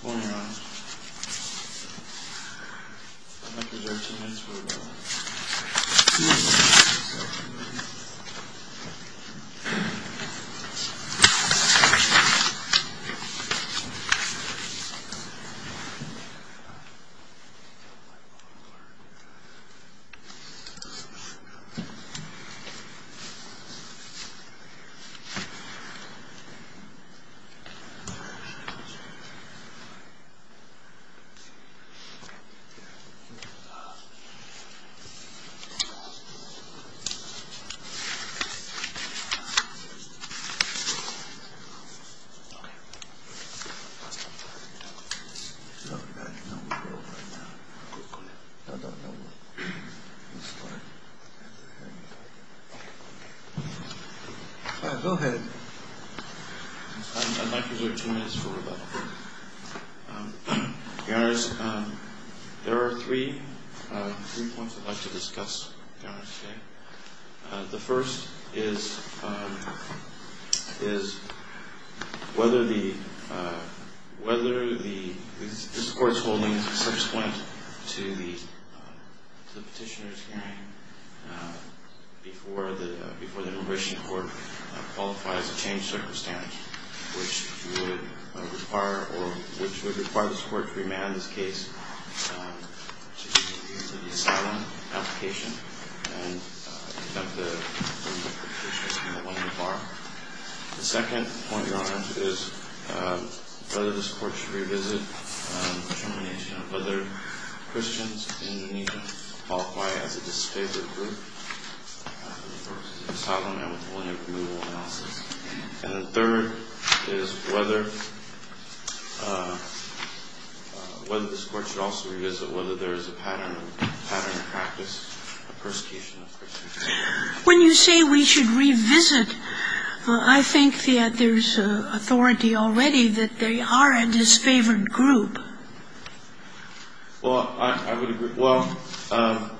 ...Pointer... ...Dr. George Simkins for about 2 weeks in college...... Go ahead snipers wait two minutes for rebuff um, your honors, um, there are three, uh, three points I'd like to discuss, your honors, today uh, the first is, um, is whether the, uh, whether the, this court's holding such a point to the, uh, to the petitioner's hearing uh, before the, uh, before the immigration court, uh, qualifies a changed circumstance which would, uh, require, or, which would require this court to remand this case, um, to the asylum application and, uh, to have the, uh, the petitioner's name on the bar the second point, your honors, is, um, whether this court should revisit, um, determination of whether Christians in Indonesia qualify as a disfavored group, uh, for asylum and with only approval analysis and the third is whether, uh, uh, whether this court should also revisit whether there is a pattern of, pattern of practice of persecution of Christians when you say we should revisit, uh, I think that there's authority already that they are a disfavored group well, I, I would agree, well, um,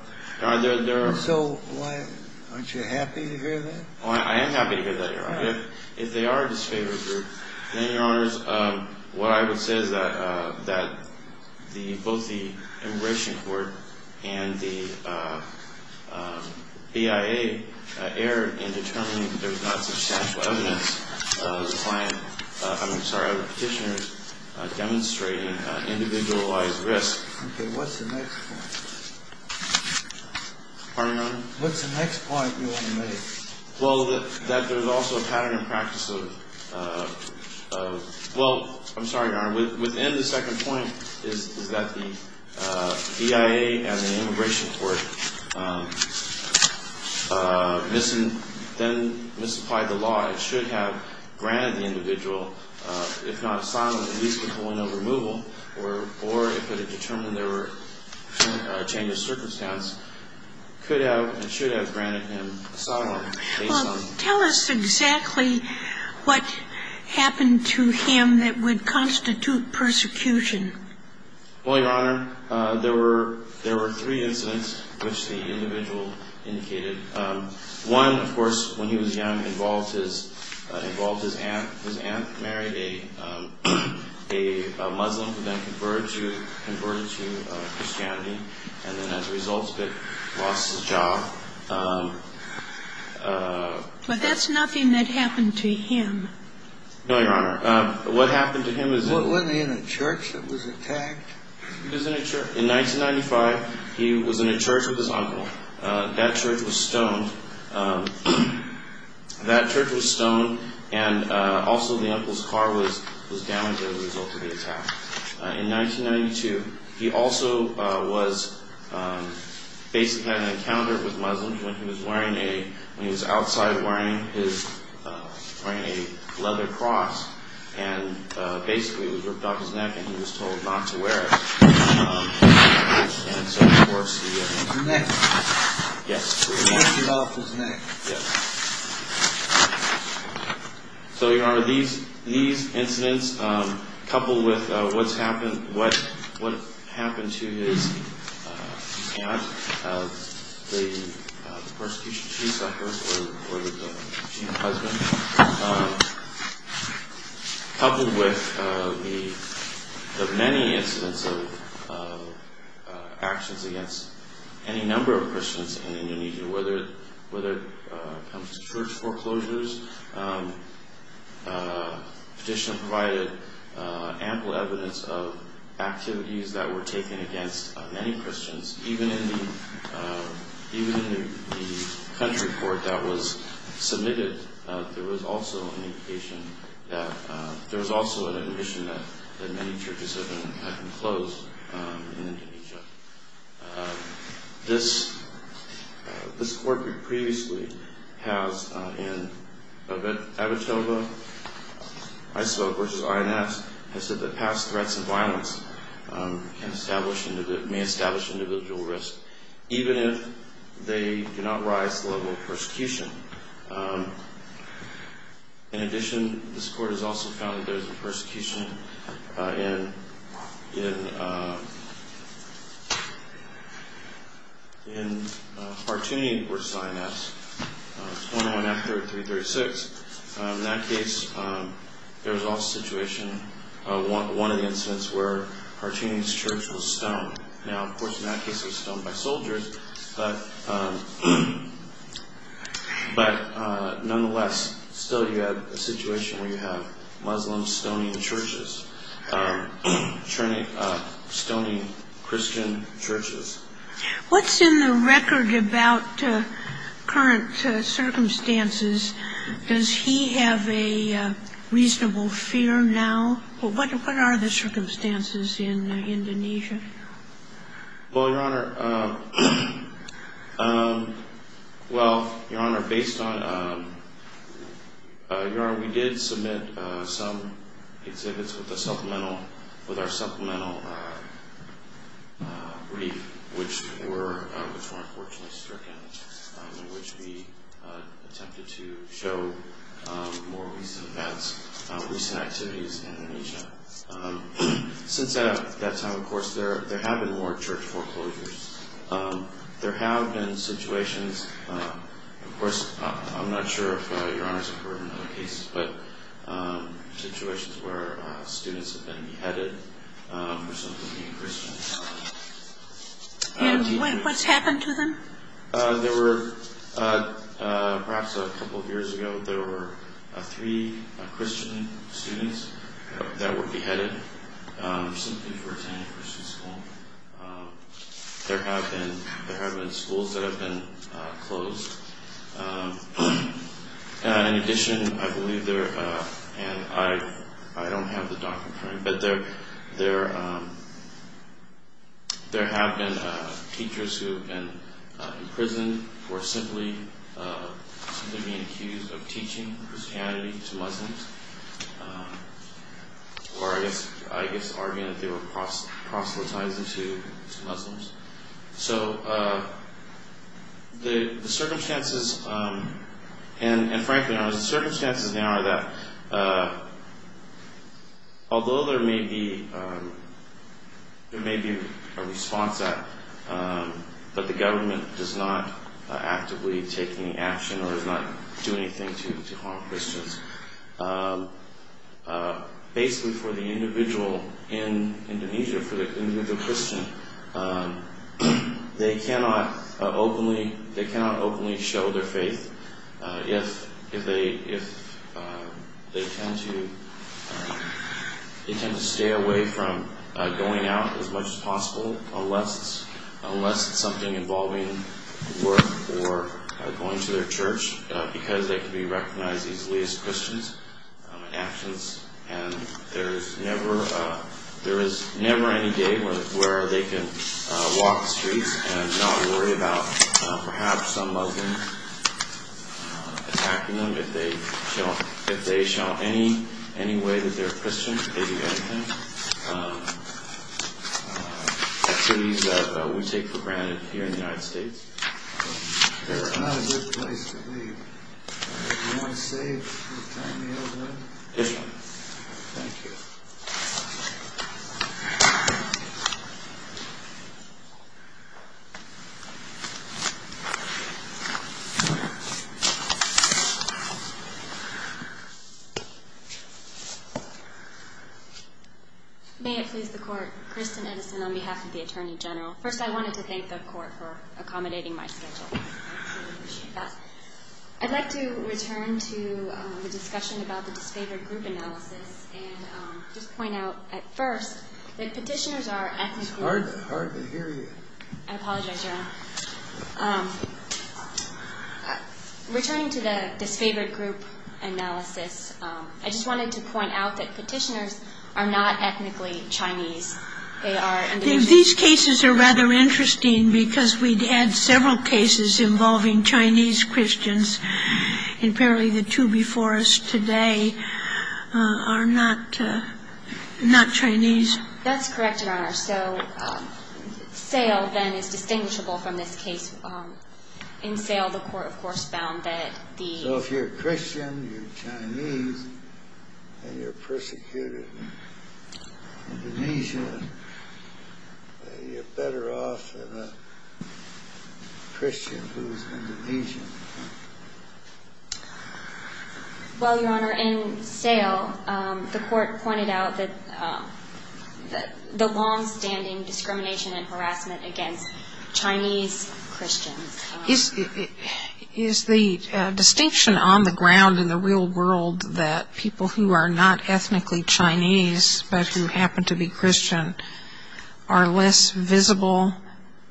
are there, there are so, why, aren't you happy to hear that? well, I am happy to hear that, your honor if, if they are a disfavored group then, your honors, um, what I would say is that, uh, that the, both the immigration court and the, uh, um, BIA, uh, err in determining there's not substantial evidence of the client, uh, I'm sorry, of the petitioner's, uh, demonstrating, uh, individualized risk okay, what's the next point? pardon, your honor? what's the next point you want to make? well, that, that there's also a pattern of practice of, uh, of, well, I'm sorry, your honor within the second point is, is that the, uh, BIA and the immigration court, um, uh, missing, then misapplied the law it should have granted the individual, uh, if not asylum, at least withholding of removal or, or if it had determined there were changes of circumstance, could have and should have granted him asylum well, tell us exactly what happened to him that would constitute persecution well, your honor, uh, there were, there were three incidents which the individual indicated um, one, of course, when he was young, involved his, uh, involved his aunt his aunt married a, um, a Muslim who then converted to, converted to, uh, Christianity and then as a result of it, lost his job, um, uh but that's nothing that happened to him no, your honor, uh, what happened to him is wasn't he in a church that was attacked? he was in a church, in 1995, he was in a church with his uncle, uh, that church was stoned, um, that church was stoned and, uh, also the uncle's car was, was damaged as a result of the attack uh, in 1992, he also, uh, was, um, basically had an encounter with Muslims when he was wearing a, when he was outside wearing his, uh, wearing a leather cross and, uh, basically it was ripped off his neck and he was told not to wear it um, and so, of course, he, uh his neck? yes ripped it off his neck? yes so, your honor, these, these incidents, um, coupled with, uh, what's happened, what, what happened to his, uh, aunt uh, the, uh, the persecution she suffered, or, or the, she and her husband um, coupled with, uh, the, the many incidents of, uh, uh, actions against any number of Christians in Indonesia whether, whether, uh, it comes to church foreclosures, um, uh, petitioner provided, uh, ample evidence of activities that were taken against many Christians even in the, uh, even in the, the country court that was submitted, uh, there was also an indication that, uh there was also an admission that, that many churches had been, had been closed, um, in Indonesia um, this, uh, this court previously has, uh, in Avitoba, Iso versus INS, has said that past threats of violence, um, can establish, may establish individual risk even if they do not rise to the level of persecution, um, in addition, this court has also found that there's a persecution, uh, in, in, uh in, uh, Partuni versus INS, uh, 21 F3336, um, in that case, um, there was also a situation, uh, one, one of the incidents where Partuni's church was stoned now, of course, in that case it was stoned by soldiers, but, um, but, uh, nonetheless, still you had a situation where you have Muslim stoning churches churning, uh, stoning Christian churches. What's in the record about, uh, current, uh, circumstances? Does he have a, uh, reasonable fear now? What, what are the circumstances in Indonesia? Well, Your Honor, uh, um, well, Your Honor, based on, um, uh, Your Honor, we did submit, uh, some exhibits with a supplemental, with our supplemental, uh, uh, brief which were, uh, which were unfortunately stricken, um, in which we, uh, attempted to show, um, more recent events, uh, recent activities in Indonesia. Uh, um, since that, that time, of course, there, there have been more church foreclosures. Um, there have been situations, um, of course, I'm not sure if, uh, Your Honor's heard in other cases, but, um, situations where, uh, students have been beheaded, um, for simply being Christians. And what's happened to them? Uh, there were, uh, uh, perhaps a couple of years ago, there were, uh, three, uh, Christian students, uh, that were beheaded, um, simply for attending Christian school. Um, there have been, there have been schools that have been, uh, closed. Um, uh, in addition, I believe there, uh, and I, I don't have the document, but there, there, um, there have been, uh, teachers who have been, uh, imprisoned for simply, uh, simply being accused of teaching Christianity to Muslims. Um, or I guess, I guess arguing that they were proselytizing to, to Muslims. So, uh, the, the circumstances, um, and, and frankly, Your Honor, the circumstances now are that, uh, although there may be, um, there may be a response that, um, but the government does not, uh, actively take any action or does not do anything to, to harm Christians. Um, uh, basically for the individual in Indonesia, for the individual Christian, um, they cannot, uh, openly, they cannot openly show their faith, uh, if, if they, if, uh, they tend to, uh, they tend to stay away from, uh, going out as much as possible unless it's, unless it's something involving work or, uh, going to their church, uh, because they can be recognized easily as Christians, um, in actions, and there's never, uh, there is never any day where, where they can, uh, walk the streets and not worry about, uh, perhaps some Muslims, uh, attacking them if they show, if they show any, any way that they're Christian, if they do anything. Um, uh, activities that, uh, we take for granted here in the United States. That's not a good place to leave. Do you want to save for the time we have left? Yes, Your Honor. Thank you. May it please the Court, Kristen Edison on behalf of the Attorney General. First, I wanted to thank the Court for accommodating my schedule. I'd like to return to, um, the discussion about the disfavored group analysis and, um, just point out at first that petitioners are ethnically... It's hard, hard to hear you. I apologize, Your Honor. Um, returning to the disfavored group analysis, um, I just wanted to point out that petitioners are not ethnically Chinese. They are... These cases are rather interesting because we've had several cases involving Chinese Christians, and apparently the two before us today, uh, are not, uh, not Chinese. That's correct, Your Honor. So, um, SAIL then is distinguishable from this case. Um, in SAIL, the Court, of course, found that the... You're Chinese, and you're persecuted in Indonesia, and you're better off than a Christian who's Indonesian. Well, Your Honor, in SAIL, um, the Court pointed out that, um, the longstanding discrimination and harassment against Chinese Christians, um... Is the distinction on the ground in the real world that people who are not ethnically Chinese but who happen to be Christian are less visible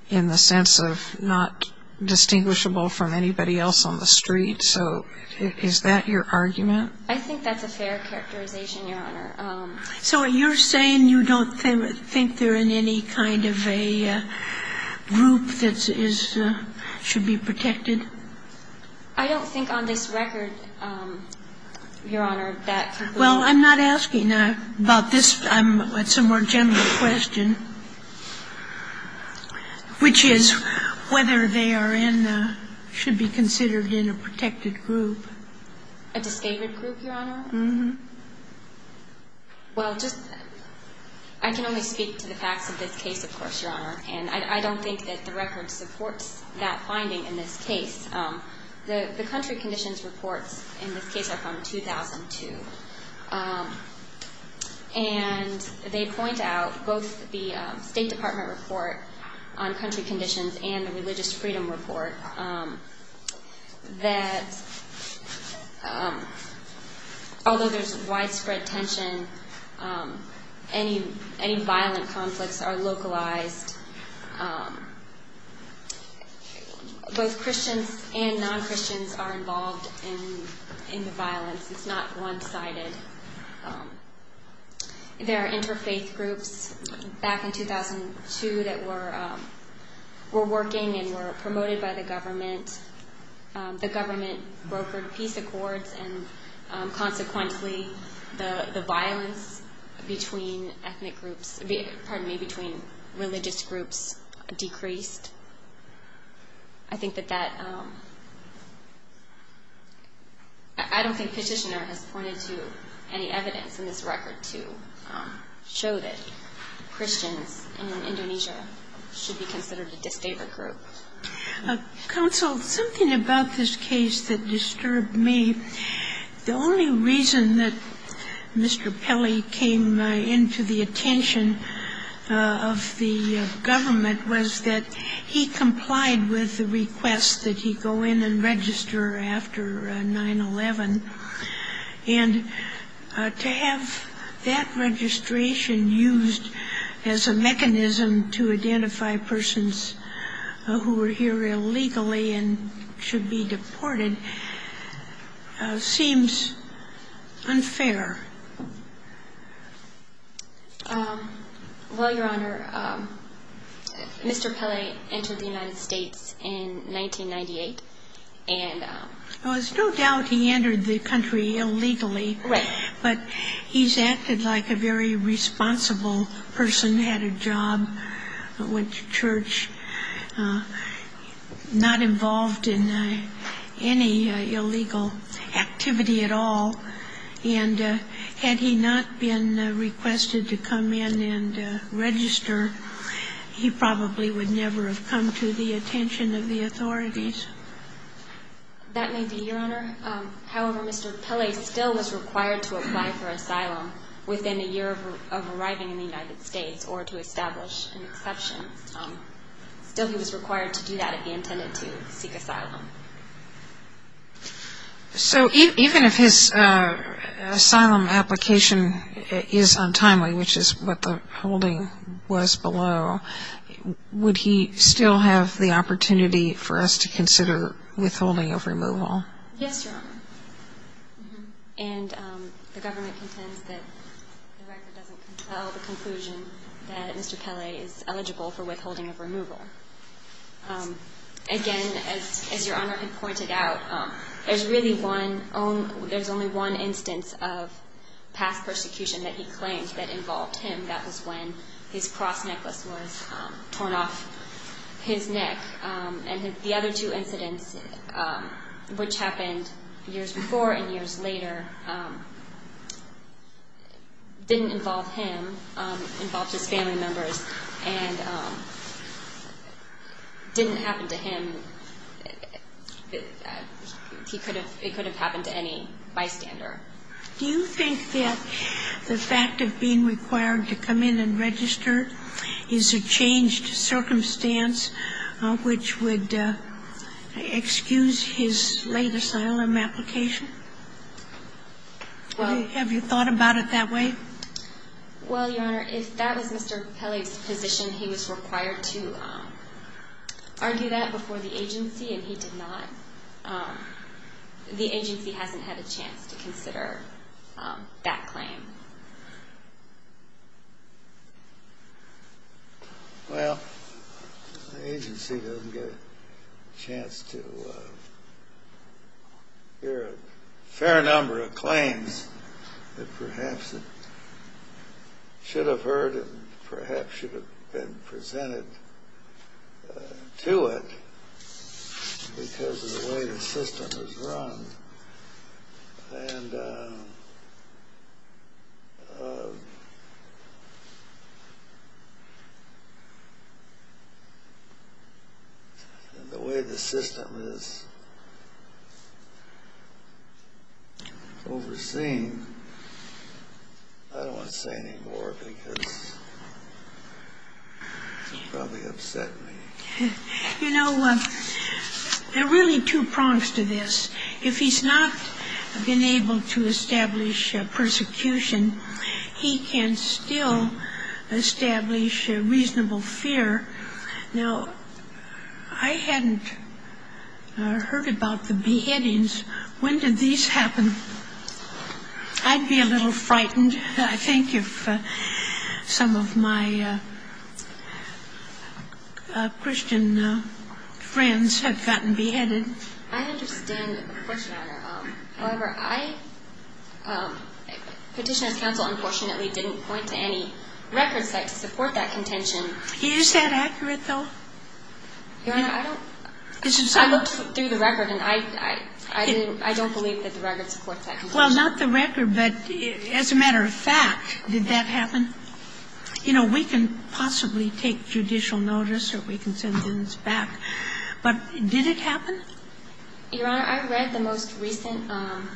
in the sense of not distinguishable from anybody else on the street? So is that your argument? I think that's a fair characterization, Your Honor. So you're saying you don't think they're in any kind of a, uh, group that is, uh, should be protected? I don't think on this record, um, Your Honor, that... Well, I'm not asking about this. It's a more general question, which is whether they are in, uh, should be considered in a protected group. A disdained group, Your Honor? Mm-hmm. Well, just... I can only speak to the facts of this case, of course, Your Honor. And I don't think that the record supports that finding in this case. Um, the country conditions reports in this case are from 2002. Um, and they point out, both the, um, State Department report on country conditions and the religious freedom report, um, that, um, although there's widespread tension, um, any violent conflicts are localized. Um, both Christians and non-Christians are involved in the violence. It's not one-sided. Um, there are interfaith groups back in 2002 that were, um, were working and were promoted by the government. Um, the government brokered peace accords, and, um, consequently, the violence between ethnic groups, pardon me, between religious groups decreased. I think that that, um... I don't think Petitioner has pointed to any evidence in this record to, um, show that Christians in Indonesia should be considered a disdained group. Counsel, something about this case that disturbed me. The only reason that Mr. Pelley came into the attention of the government was that he complied with the request that he go in and register after 9-11. And, uh, to have that registration used as a mechanism to identify persons, uh, who were here illegally and should be deported, uh, seems unfair. Um, well, Your Honor, um, Mr. Pelley entered the United States in 1998, and, um... There was no doubt he entered the country illegally. Right. But he's acted like a very responsible person, had a job, went to church, uh, not involved in any illegal activity at all. And, uh, had he not been requested to come in and register, he probably would never have come to the attention of the authorities. That may be, Your Honor. Um, however, Mr. Pelley still was required to apply for asylum within a year of arriving in the United States or to establish an exception. Um, still he was required to do that if he intended to seek asylum. So even if his, uh, asylum application is untimely, which is what the holding was below, would he still have the opportunity for us to consider withholding of removal? Yes, Your Honor. Mm-hmm. And, um, the government contends that the record doesn't control the conclusion that Mr. Pelley is eligible for withholding of removal. Um, again, as, as Your Honor had pointed out, um, there's really one own, there's only one instance of past persecution that he claimed that involved him. That was when his cross necklace was, um, torn off his neck. Um, and the other two incidents, um, which happened years before and years later, um, didn't involve him, um, involved his family members. And, um, didn't happen to him. He could have, it could have happened to any bystander. Do you think that the fact of being required to come in and register is a changed circumstance, uh, which would, uh, excuse his late asylum application? Well. Have you thought about it that way? Well, Your Honor, if that was Mr. Pelley's position, he was required to, um, argue that before the agency, and he did not, um, the agency hasn't had a chance to consider, um, that claim. Well, the agency doesn't get a chance to, uh, hear a fair number of claims that perhaps it should have heard and perhaps should have been presented, uh, to it because of the way the system is run. And, um, uh, the way the system is overseen, I don't want to say any more because it would probably upset me. You know, um, there are really two prongs to this. If he's not been able to establish, uh, persecution, he can still establish, uh, reasonable fear. Now, I hadn't, uh, heard about the beheadings. When did these happen? I'd be a little frightened, I think, if, uh, some of my, uh, uh, Christian, uh, friends had gotten beheaded. I understand the question, Your Honor. Um, however, I, um, Petitioner's Counsel unfortunately didn't point to any record site to support that contention. Is that accurate, though? Your Honor, I don't. I looked through the record, and I, I, I didn't, I don't believe that the record supports that contention. Well, not the record, but as a matter of fact, did that happen? You know, we can possibly take judicial notice or we can send things back, but did it happen? Your Honor, I read the most recent, um,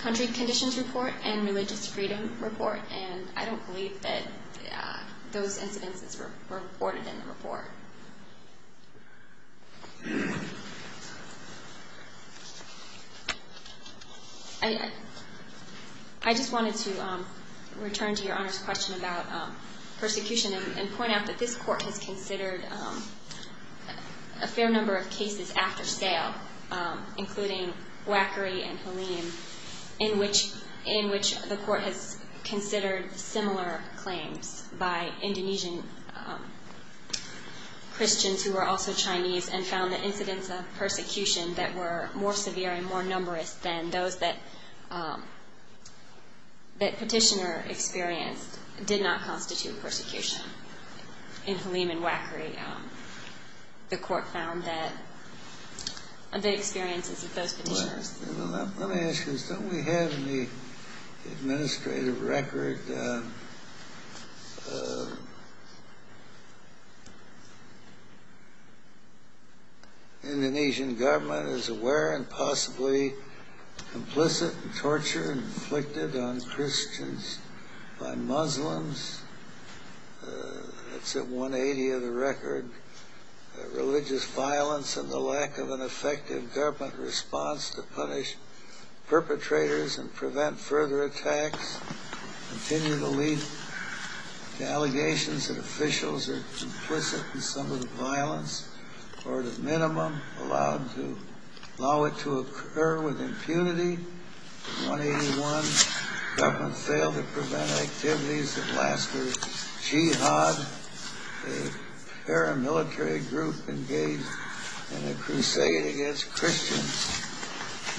country conditions report and religious freedom report, and I don't believe that, uh, those incidents were, were reported in the report. I, I, I just wanted to, um, return to Your Honor's question about, um, persecution and, and point out that this Court has considered, um, a fair number of cases after sale, um, including Wackery and Halim, in which, in which the Court has considered similar claims by Indonesian, um, Christians who were also Chinese and found the incidents of persecution that were more severe and more numerous than those that, um, that Petitioner experienced did not constitute persecution. In Halim and Wackery, um, the Court found that the experiences of those petitioners... Well, let me ask you this. Don't we have in the administrative record, um, uh, Indonesian government is aware and possibly complicit in torture and inflicted on Christians by Muslims? Uh, that's at 180 of the record. Uh, religious violence and the lack of an effective government response to punish perpetrators and prevent further attacks continue to lead to allegations that officials are complicit in some of the violence, or at a minimum, allowed to, allow it to occur with impunity. 181, government failed to prevent activities that lasted. Jihad, a paramilitary group engaged in a crusade against Christians.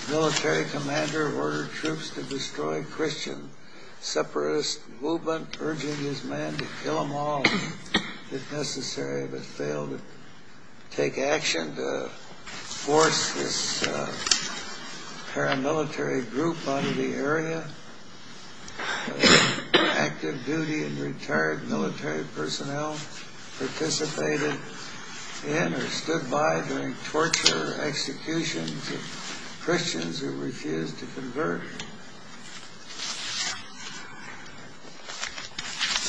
Military commander ordered troops to destroy Christian separatist movement, urging his men to kill them all, if necessary, but failed to take action to force this paramilitary group out of the area. Active duty and retired military personnel participated in or stood by during torture executions of Christians who refused to convert.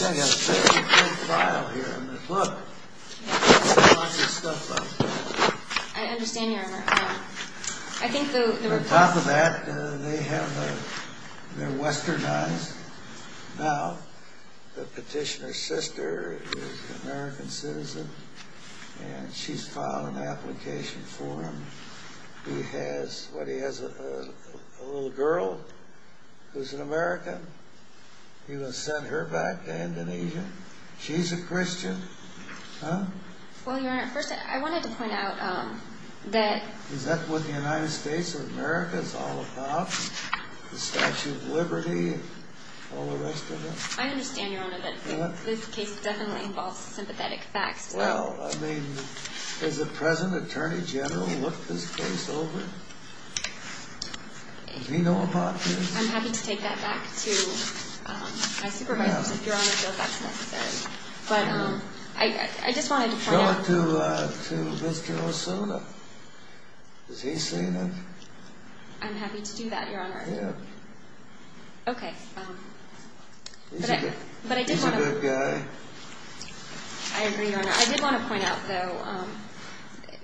I've got a pretty big file here. I mean, look. Lots of stuff up there. I understand, Your Honor. I think the... On top of that, they have, uh, they're westernized. Now, the petitioner's sister is an American citizen, and she's filed an application for him. He has, what, he has a little girl who's an American. He was sent her back to Indonesia. She's a Christian. Huh? Well, Your Honor, first, I wanted to point out that... Is that what the United States of America is all about? The Statue of Liberty and all the rest of it? I understand, Your Honor, that this case definitely involves sympathetic facts. Well, I mean, has the present Attorney General looked this case over? Does he know about this? I'm happy to take that back to my supervisors, if Your Honor feels that's necessary. But I just wanted to point out... Show it to Mr. Osuna. Has he seen it? I'm happy to do that, Your Honor. Yeah. Okay. He's a good guy. I agree, Your Honor. I did want to point out, though,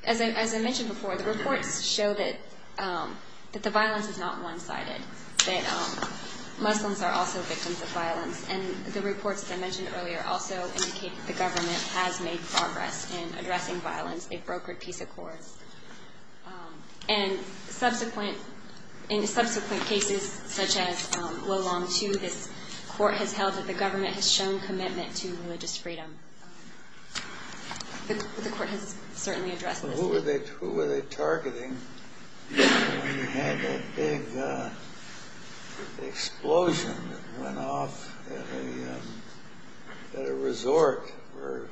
as I mentioned before, the reports show that the violence is not one-sided, that Muslims are also victims of violence. And the reports that I mentioned earlier also indicate that the government has made progress in addressing violence, a brokered peace accord. And in subsequent cases, such as Wolong II, this Court has held that the government has shown commitment to religious freedom. The Court has certainly addressed this. Well, who were they targeting when you had that big explosion that went off at a resort where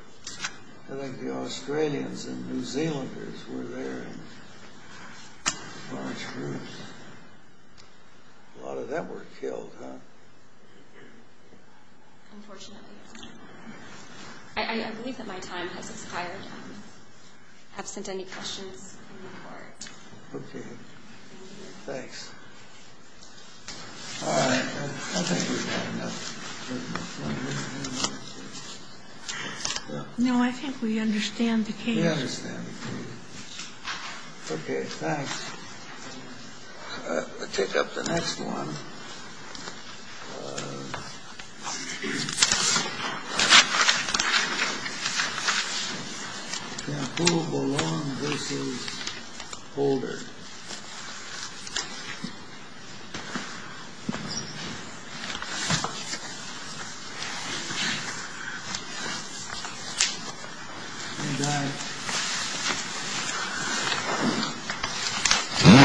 I think the Australians and New Zealanders were there in large groups? A lot of them were killed, huh? Unfortunately, yes. I believe that my time has expired. I have sent any questions to the Court. Okay. Thanks. All right. I think we've had enough. We understand the case. Okay. Thanks. I'll take up the next one. Now, who belonged to this holder? All right.